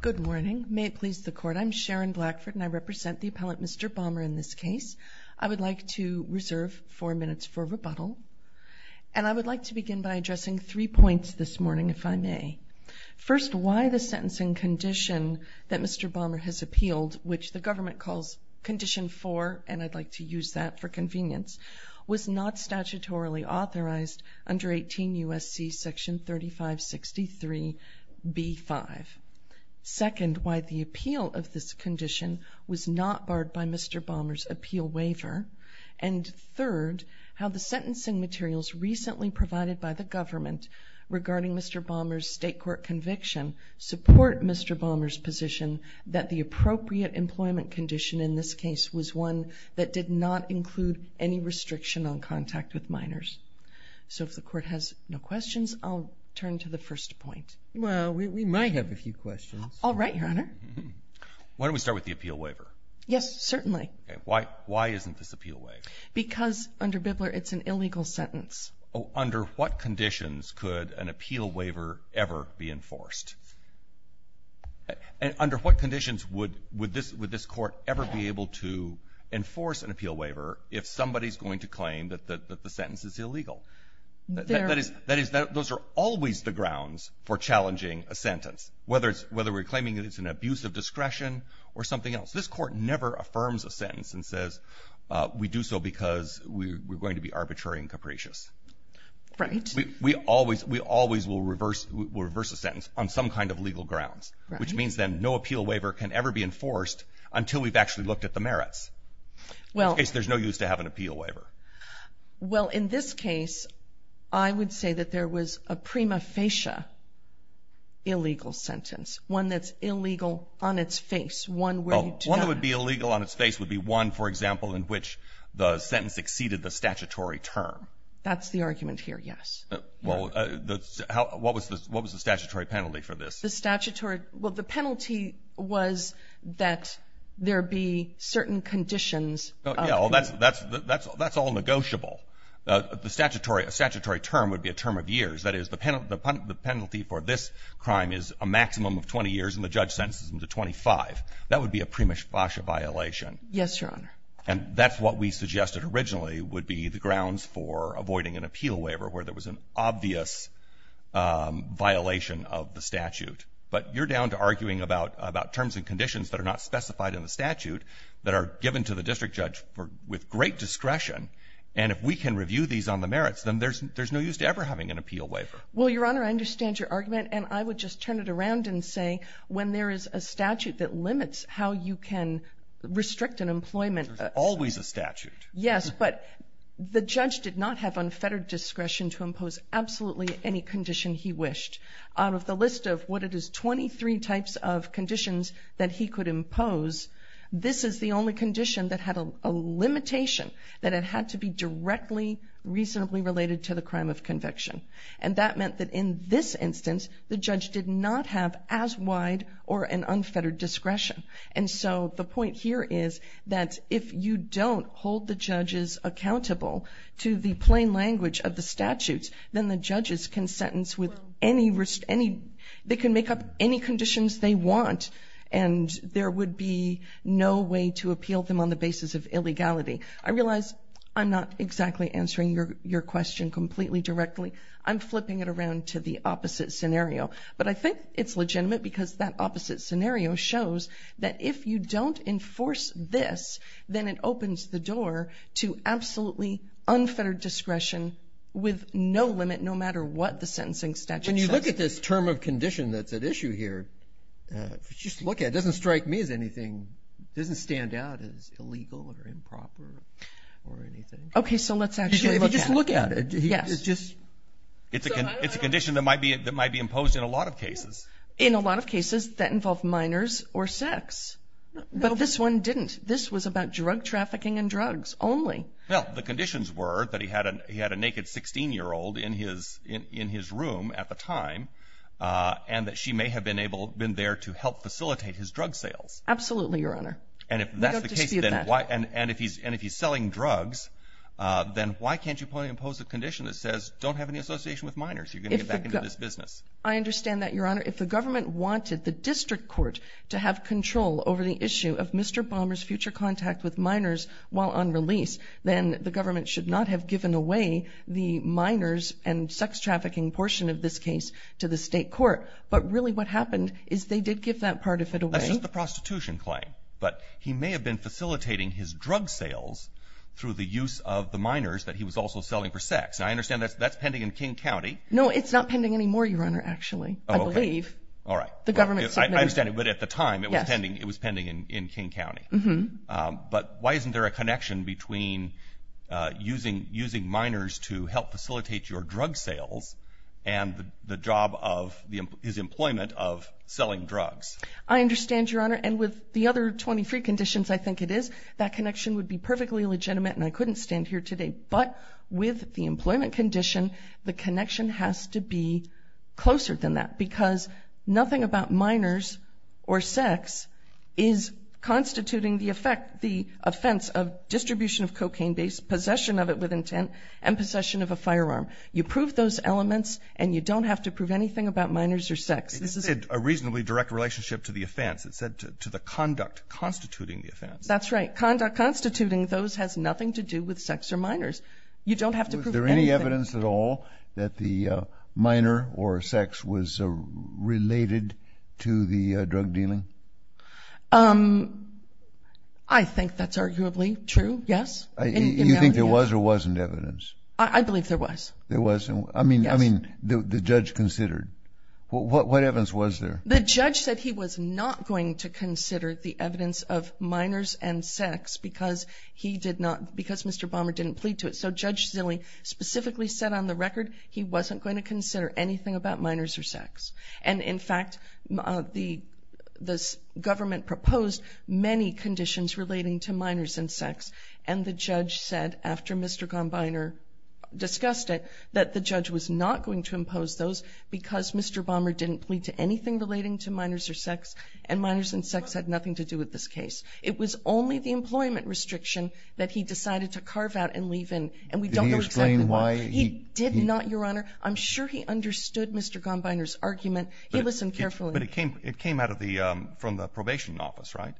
Good morning may it please the court I'm Sharon Blackford and I represent the appellate Mr. Bomber in this case. I would like to reserve four minutes for rebuttal and I would like to begin by addressing three points this morning if I may. First why the sentencing condition that Mr. Bomber has appealed which the government calls condition four and I'd like to use that for convenience was not second why the appeal of this condition was not barred by Mr. Bomber's appeal waiver and third how the sentencing materials recently provided by the government regarding Mr. Bomber's state court conviction support Mr. Bomber's position that the appropriate employment condition in this case was one that did not include any restriction on contact with minors. So if the court has no questions. All right your honor. Why don't we start with the appeal waiver. Yes certainly. Why why isn't this appeal waiver? Because under Bibler it's an illegal sentence. Oh under what conditions could an appeal waiver ever be enforced and under what conditions would would this would this court ever be able to enforce an appeal waiver if somebody's going to claim that the sentence is illegal. That is that is that those are always the grounds for whether we're claiming that it's an abuse of discretion or something else. This court never affirms a sentence and says we do so because we're going to be arbitrary and capricious. Right. We always we always will reverse reverse a sentence on some kind of legal grounds which means then no appeal waiver can ever be enforced until we've actually looked at the merits. Well there's no use to have an appeal waiver. Well in this case I would say that there was a one that's illegal on its face. One would be illegal on its face would be one for example in which the sentence exceeded the statutory term. That's the argument here. Yes. Well that's how what was this what was the statutory penalty for this? The statutory well the penalty was that there be certain conditions. Oh yeah well that's that's that's that's all negotiable. The statutory statutory term would be a term of years. That is the penalty the penalty for this crime is a 20 years and the judge sentences him to 25. That would be a pre-Mishbasha violation. Yes your honor. And that's what we suggested originally would be the grounds for avoiding an appeal waiver where there was an obvious violation of the statute. But you're down to arguing about about terms and conditions that are not specified in the statute that are given to the district judge for with great discretion and if we can review these on the merits then there's there's no use to ever having an appeal waiver. Well your honor I understand your and say when there is a statute that limits how you can restrict an employment there's always a statute. Yes but the judge did not have unfettered discretion to impose absolutely any condition he wished. Out of the list of what it is 23 types of conditions that he could impose this is the only condition that had a limitation that it had to be directly reasonably related to the crime of as wide or an unfettered discretion. And so the point here is that if you don't hold the judges accountable to the plain language of the statutes then the judges can sentence with any risk any they can make up any conditions they want and there would be no way to appeal them on the basis of illegality. I realize I'm not exactly answering your your question completely directly. I'm flipping it down to the opposite scenario but I think it's legitimate because that opposite scenario shows that if you don't enforce this then it opens the door to absolutely unfettered discretion with no limit no matter what the sentencing statute. When you look at this term of condition that's at issue here just look at it doesn't strike me as anything doesn't stand out as illegal or a condition that might be that might be imposed in a lot of cases. In a lot of cases that involve minors or sex but this one didn't this was about drug trafficking and drugs only. Well the conditions were that he had an he had a naked 16 year old in his in his room at the time and that she may have been able been there to help facilitate his drug sales. Absolutely your honor. And if that's the case and if he's and if he's selling drugs then why can't you impose a condition that says don't have any association with minors you can get back into this business. I understand that your honor if the government wanted the district court to have control over the issue of Mr. Bombers future contact with minors while on release then the government should not have given away the minors and sex trafficking portion of this case to the state court but really what happened is they did give that part of it away. That's just the prostitution claim but he may have been facilitating his drug sales through the minors that he was also selling for sex. I understand that that's pending in King County. No it's not pending anymore your honor actually I believe. All right. The government. I understand it but at the time it was pending it was pending in King County. Mm-hmm. But why isn't there a connection between using using minors to help facilitate your drug sales and the job of the his employment of selling drugs. I understand your honor and with the other 23 conditions I think it is that connection would be perfectly legitimate and I couldn't stand here today but with the employment condition the connection has to be closer than that because nothing about minors or sex is constituting the effect the offense of distribution of cocaine based possession of it with intent and possession of a firearm. You prove those elements and you don't have to prove anything about minors or sex. This is a reasonably direct relationship to the offense it said to the conduct constituting the offense. That's right constituting those has nothing to do with sex or minors. You don't have to prove. Is there any evidence at all that the minor or sex was related to the drug dealing? I think that's arguably true yes. You think there was or wasn't evidence? I believe there was. There was I mean I mean the judge considered. What evidence was there? The judge said he was not going to consider the evidence of minors and sex because he did not because Mr. Bommer didn't plead to it. So Judge Zille specifically said on the record he wasn't going to consider anything about minors or sex and in fact the this government proposed many conditions relating to minors and sex and the judge said after Mr. Gombiner discussed it that the judge was not going to impose those because Mr. Bommer didn't plead to anything relating to minors or sex and minors and sex had nothing to do with this case. It was only the employment restriction that he decided to carve out and leave in and we don't know why he did not your honor. I'm sure he understood Mr. Gombiner's argument. He listened carefully but it came it came out of the from the probation office right?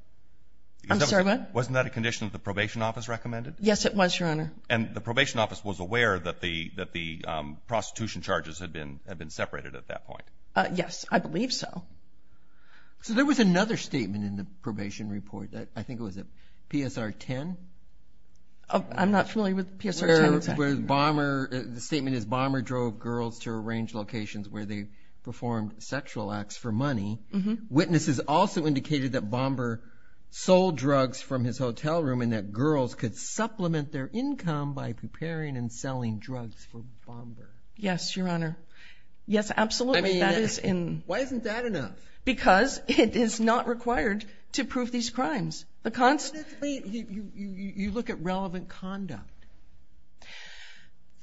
I'm sorry what wasn't that a condition of the probation office recommended? Yes it was your honor and the probation office was aware that the that the prostitution charges had been have been separated at that point. Yes I believe so. So there was another statement in the probation report that I think it was a PSR 10. I'm not familiar with the PSR 10. The statement is Bomber drove girls to arrange locations where they performed sexual acts for money. Witnesses also indicated that Bomber sold drugs from his hotel room and that girls could supplement their income by preparing and selling drugs for Bomber. Yes your honor. Yes required to prove these crimes. You look at relevant conduct.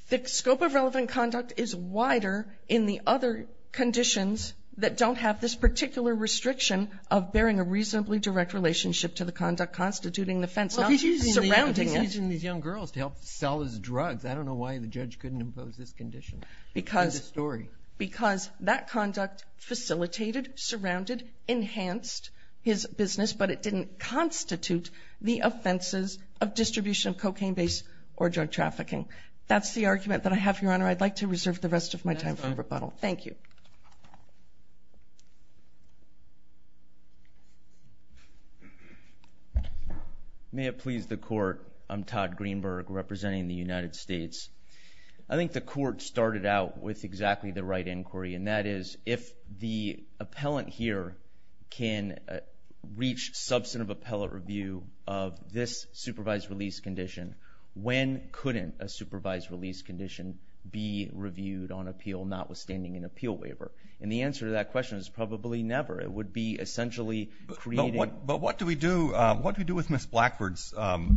The scope of relevant conduct is wider in the other conditions that don't have this particular restriction of bearing a reasonably direct relationship to the conduct constituting the offense. He's using these young girls to help sell his drugs. I don't know why the judge couldn't impose this condition. Because that conduct facilitated, surrounded, enhanced his business but it didn't constitute the offenses of distribution of cocaine based or drug trafficking. That's the argument that I have your honor. I'd like to reserve the rest of my time for rebuttal. Thank you. May it please the court. I'm Todd Greenberg representing the United States. I think the court started out with exactly the right inquiry and that is if the appellant here can reach substantive appellate review of this supervised release condition when couldn't a supervised release condition be reviewed on appeal notwithstanding an appeal waiver. And the answer to that question is probably never. It would be essentially. But what but what do we do what we do with Miss Blackford's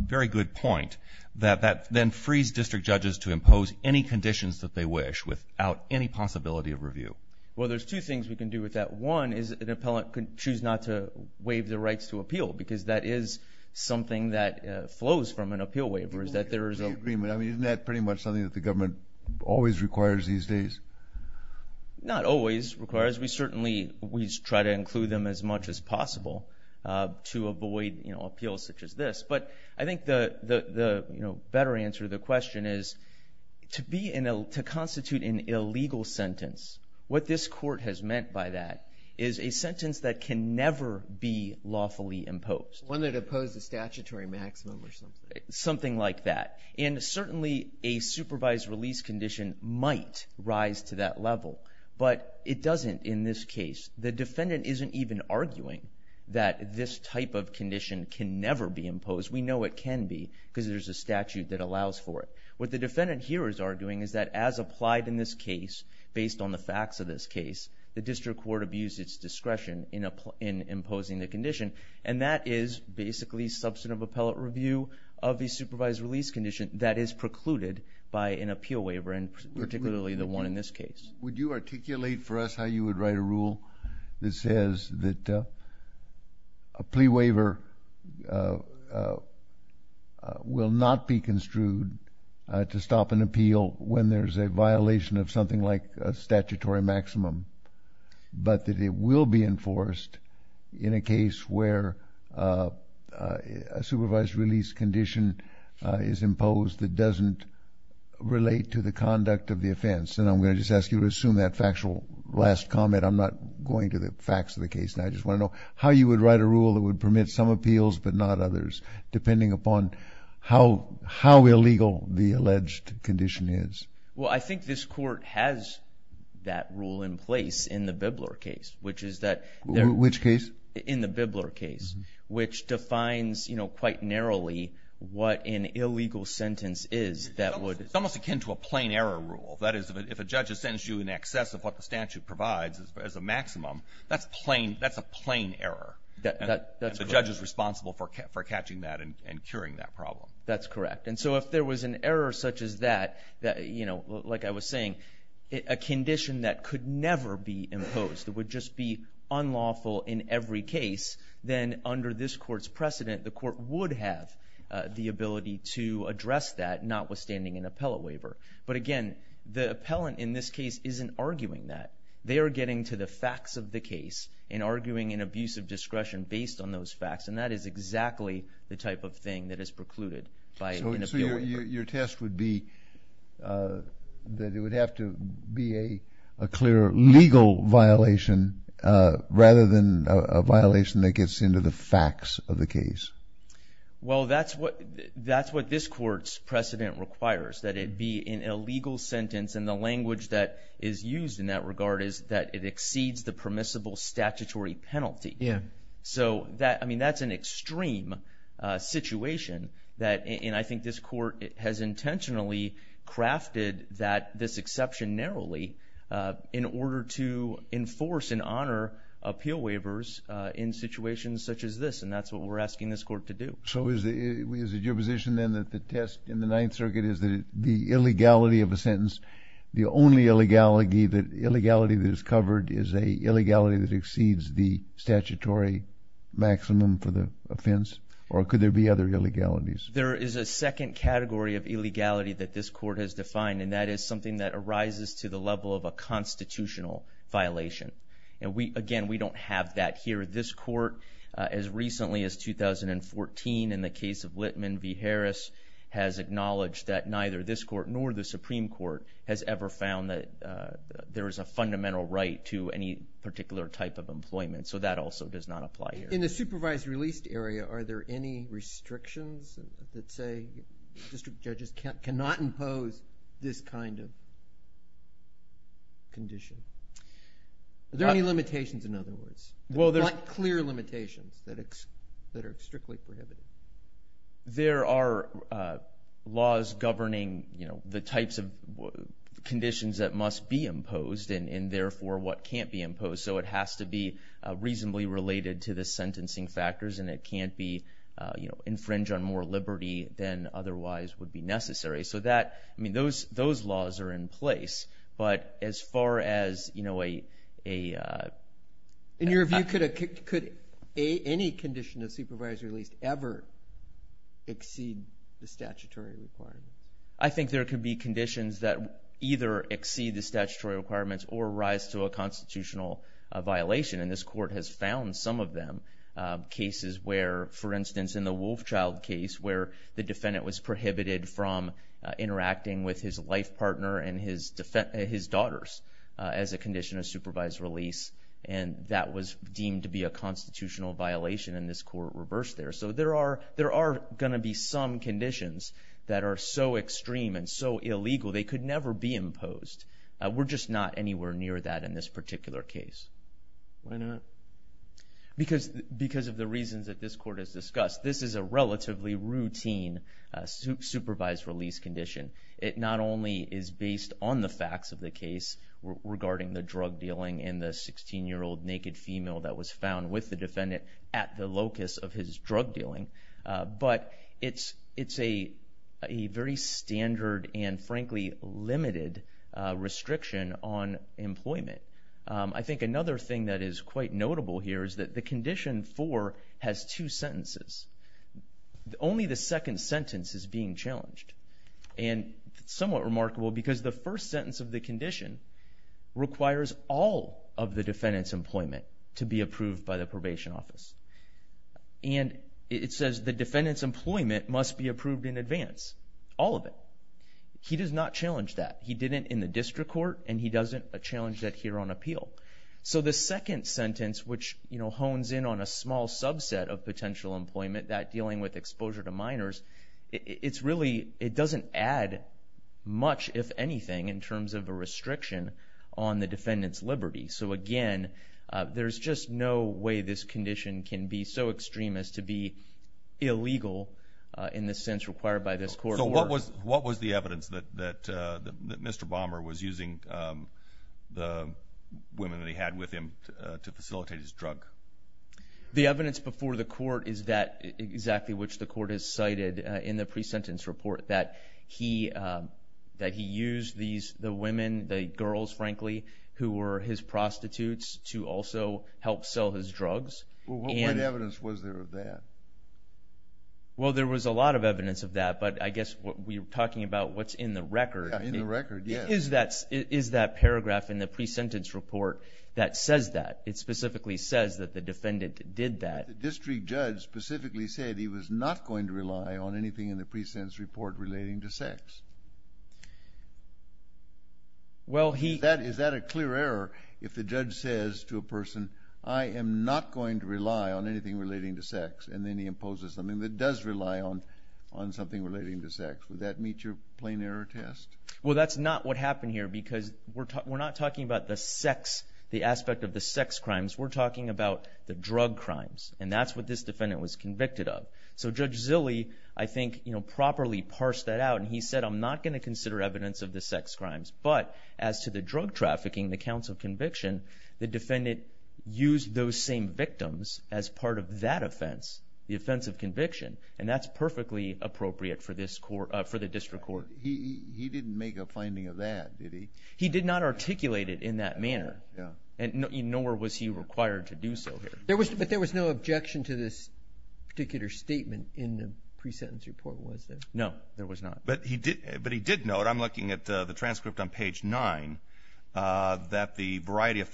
very good point that that then frees district judges to impose any conditions that they wish without any possibility of review. Well there's two things we can do with that. One is an appellant could choose not to waive the rights to appeal because that is something that flows from an appeal waiver is that there is a. I mean isn't that pretty much something that the government always requires these days. Not always requires we certainly we try to include them as much as possible to avoid you know To constitute an illegal sentence. What this court has meant by that is a sentence that can never be lawfully imposed. One that opposes statutory maximum or something. Something like that. And certainly a supervised release condition might rise to that level. But it doesn't in this case. The defendant isn't even arguing that this type of condition can never be imposed. We know it can be because there's a statute that allows for it. What the defendant here is arguing is that as applied in this case based on the facts of this case the district court abused its discretion in imposing the condition. And that is basically substantive appellate review of the supervised release condition that is precluded by an appeal waiver and particularly the one in this case. Would you articulate for us how you would write a rule that says that a will not be construed to stop an appeal when there's a violation of something like a statutory maximum. But that it will be enforced in a case where a supervised release condition is imposed that doesn't relate to the conduct of the offense. And I'm going to just ask you to assume that factual last comment. I'm not going to the facts of the case. I just want to know how you would write a rule based upon how how illegal the alleged condition is. Well I think this court has that rule in place in the Bibler case. Which is that. Which case? In the Bibler case. Which defines you know quite narrowly what an illegal sentence is that would. It's almost akin to a plain error rule. That is if a judge has sentenced you in excess of what the statute provides as a maximum. That's plain. That's a plain error. The judge is responsible for catching that and curing that problem. That's correct. And so if there was an error such as that. That you know like I was saying. A condition that could never be imposed. That would just be unlawful in every case. Then under this court's precedent the court would have the ability to address that notwithstanding an appellate waiver. But again the appellant in this case isn't arguing that. They are getting to the facts of the case. And arguing an abuse of the type of thing that is precluded by an appeal. So your test would be that it would have to be a clear legal violation rather than a violation that gets into the facts of the case. Well that's what that's what this court's precedent requires. That it be an illegal sentence. And the language that is used in that regard is that it exceeds the permissible statutory penalty. Yeah. So I mean that's an extreme situation. And I think this court has intentionally crafted that this exception narrowly. In order to enforce and honor appeal waivers in situations such as this. And that's what we're asking this court to do. So is it your position then that the test in the Ninth Circuit is that the illegality of a sentence. The only illegality that illegality that is covered is a illegality that exceeds the statutory maximum for the offense. Or could there be other illegalities? There is a second category of illegality that this court has defined. And that is something that arises to the level of a constitutional violation. And we again we don't have that here. This court as recently as 2014 in the case of Litman v. Harris has acknowledged that neither this court nor the Supreme Court has ever found that there is a fundamental right to any particular type of employment. So that also does not apply here. In the supervised released area are there any restrictions that say district judges cannot impose this kind of condition? Are there any limitations in other words? Well there's clear limitations that are strictly prohibited. There are laws governing you know the types of conditions that must be imposed. And it has to be reasonably related to the sentencing factors. And it can't be you know infringe on more liberty than otherwise would be necessary. So that I mean those those laws are in place. But as far as you know a. In your view could a could a any condition of supervisory released ever exceed the statutory requirement? I think there could be conditions that either exceed the And this court has found some of them. Cases where for instance in the Wolfchild case where the defendant was prohibited from interacting with his life partner and his daughters as a condition of supervised release. And that was deemed to be a constitutional violation and this court reversed there. So there are there are gonna be some conditions that are so extreme and so illegal they could never be imposed. We're just not anywhere near that in this particular case. Why not? Because because of the reasons that this court has discussed. This is a relatively routine supervised release condition. It not only is based on the facts of the case regarding the drug dealing in the 16 year old naked female that was found with the defendant at the locus of his drug dealing. But it's it's a a very standard and frankly limited restriction on employment. I think another thing that is quite notable here is that the condition for has two sentences. Only the second sentence is being challenged. And somewhat remarkable because the first sentence of the condition requires all of the defendant's employment to be approved by the probation office. And it says the defendant's employment must be approved in advance. All of it. He does not challenge that. He didn't in the district court and he doesn't a challenge that here on appeal. So the second sentence which you know hones in on a small subset of potential employment that dealing with exposure to minors. It's really it doesn't add much if anything in terms of a restriction on the defendant's liberty. So again there's just no way this condition can be so extreme as to be illegal in the sense required by this court. So what was what was the evidence that that Mr. Bomber was using the women that he had with him to facilitate his drug? The evidence before the court is that exactly which the court has cited in the pre-sentence report. That he that he used these the women the girls frankly who were his prostitutes to also help sell his drugs. What evidence was there of that? Well there was a lot of evidence of that but I guess what we're talking about what's in the record. In the record yeah. Is that is that paragraph in the pre-sentence report that says that? It specifically says that the defendant did that. The district judge specifically said he was not going to rely on anything in the pre-sentence report relating to sex. Well he. That is that a clear error if the judge says to a person I am not going to rely on anything relating to sex. And then he imposes something that does rely on on something relating to sex. Would that meet your plain error test? Well that's not what happened here because we're talking we're not talking about the sex the aspect of the sex crimes. We're talking about the drug crimes and that's what this defendant was convicted of. So Judge Zilli I think you know properly parsed that out and he said I'm not going to consider evidence of the sex crimes. But as to the drug trafficking the counts of conviction the defendant used those same victims as part of that offense the offense of conviction and that's perfectly appropriate for this court for the district court. He didn't make a finding of that did he? He did not articulate it in that manner. Yeah. And nor was he required to do so here. There was but there was no objection to this particular statement in the pre-sentence report was there? No there was not. But he did but he did note I'm looking at the transcript on page 9 that the variety of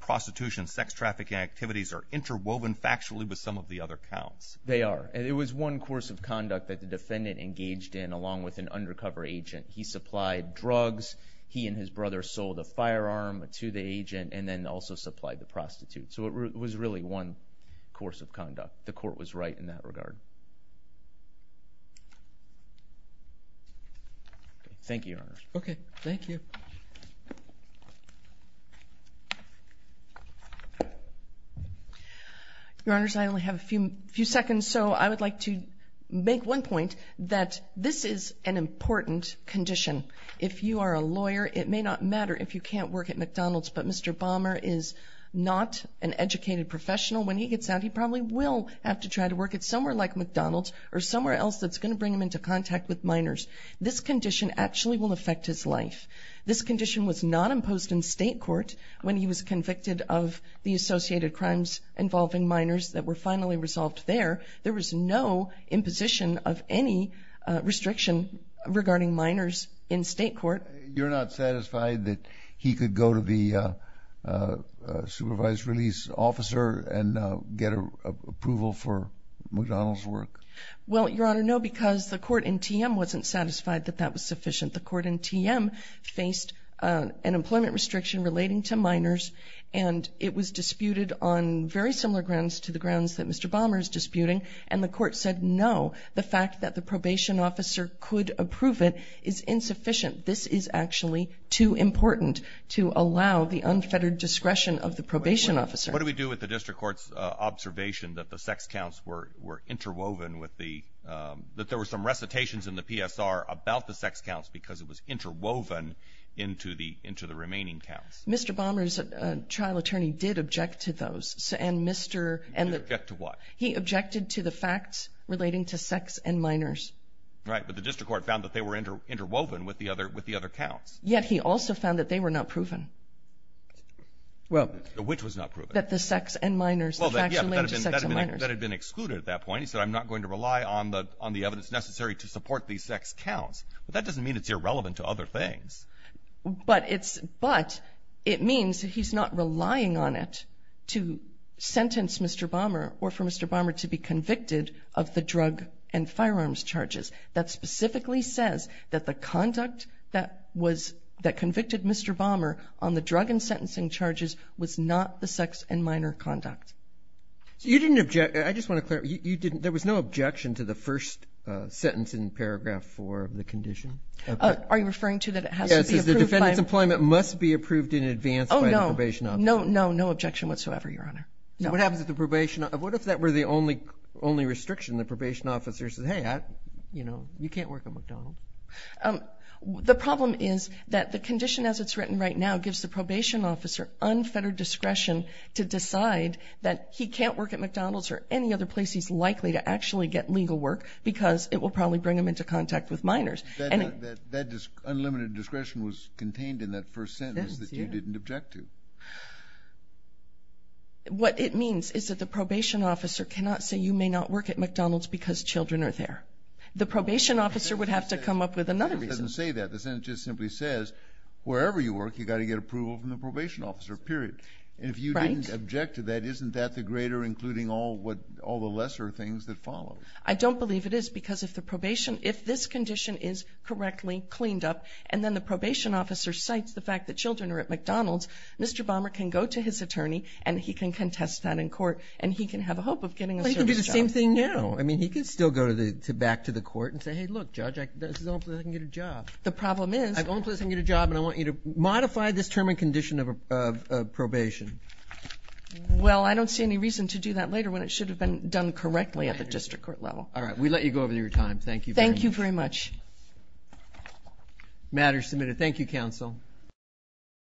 prostitution sex trafficking activities are interwoven factually with some of the other counts. They are and it was one course of conduct that the defendant engaged in along with an undercover agent. He supplied drugs. He and his brother sold a firearm to the agent and then also supplied the prostitute. So it was really one course of conduct. The court was right in that regard. Thank you. Okay thank you. Your honors I only have a few few seconds so I would like to make one point that this is an important condition. If you are a lawyer it may not matter if you can't work at McDonald's but Mr. Balmer is not an educated professional. When he gets out he probably will have to try to work at somewhere like McDonald's or somewhere else that's going to bring him into contact with minors. This condition actually will affect his life. This condition was not imposed in state court when he was convicted of the associated crimes involving minors that were finally resolved there. There was no imposition of any restriction regarding minors in state court. You're not satisfied that he could go to the supervised release officer and get a approval for McDonald's work? Well your honor no because the court in TM wasn't satisfied that that was sufficient. The court in TM faced an employment restriction relating to minors and it was disputed on very similar grounds to the grounds that Mr. Balmer is disputing and the court said no. The fact that the probation officer could approve it is insufficient. This is actually too important to allow the unfettered discretion of the probation officer. What do we do with the district court's observation that the sex counts were were interwoven with the that there were some recitations in the PSR about the sex counts because it was interwoven into the into the remaining counts? Mr. Balmer's trial attorney did object to those. He objected to what? He objected to the facts relating to sex and minors. Right but the district court found that they were interwoven with the other with the other counts. Yet he also found that they were not proven. Well which was not proven? That the sex and minors. Well that had been excluded at that point. He said I'm not going to rely on the on the evidence necessary to support these sex counts but that doesn't mean it's irrelevant to other things. But it's but it means he's not relying on it to sentence Mr. Balmer or for Mr. Balmer to be convicted of the drug and firearms charges. That specifically says that the conduct that was that convicted Mr. Balmer on the drug and sentencing charges was not the sex and minor conduct. You didn't object I just want to clear you didn't there was no objection to the first sentence in paragraph four of the condition. Are you referring to that it has the defendant's employment must be approved in advance? Oh no no no no objection whatsoever your honor. Now what happens at the probation? What if that were the only only restriction the probation officer says hey you know you can't work at McDonald's. The problem is that the condition as it's written right now gives the probation officer unfettered discretion to decide that he can't work at McDonald's or any other place he's likely to actually get legal work because it will probably bring him into contact with minors. That unlimited discretion was contained in that first sentence that you didn't object to. What it means is that the probation officer cannot say you may not work at McDonald's because children are there. The probation officer would have to come up with another reason. It doesn't say that the sentence just simply says wherever you work you got to get approval from the probation officer period. And if you didn't object to that isn't that the greater including all what all the lesser things that follow? I don't believe it is because if the probation if this condition is correctly cleaned up and then the probation officer cites the fact that children are at McDonald's Mr. Balmer can go to his attorney and he can contest that in court and he can have a hope of getting a service job. He can do the same thing now. I mean he can still go to the back to the court and say hey look judge I can get a job. The problem is. I can get a job and I want you to modify this term and condition of a probation. Well I don't see any reason to do that later when it should have been done correctly at the district court level. All right we let you go over your time. Thank you. Thank you very much. Matters submitted. Thank you counsel.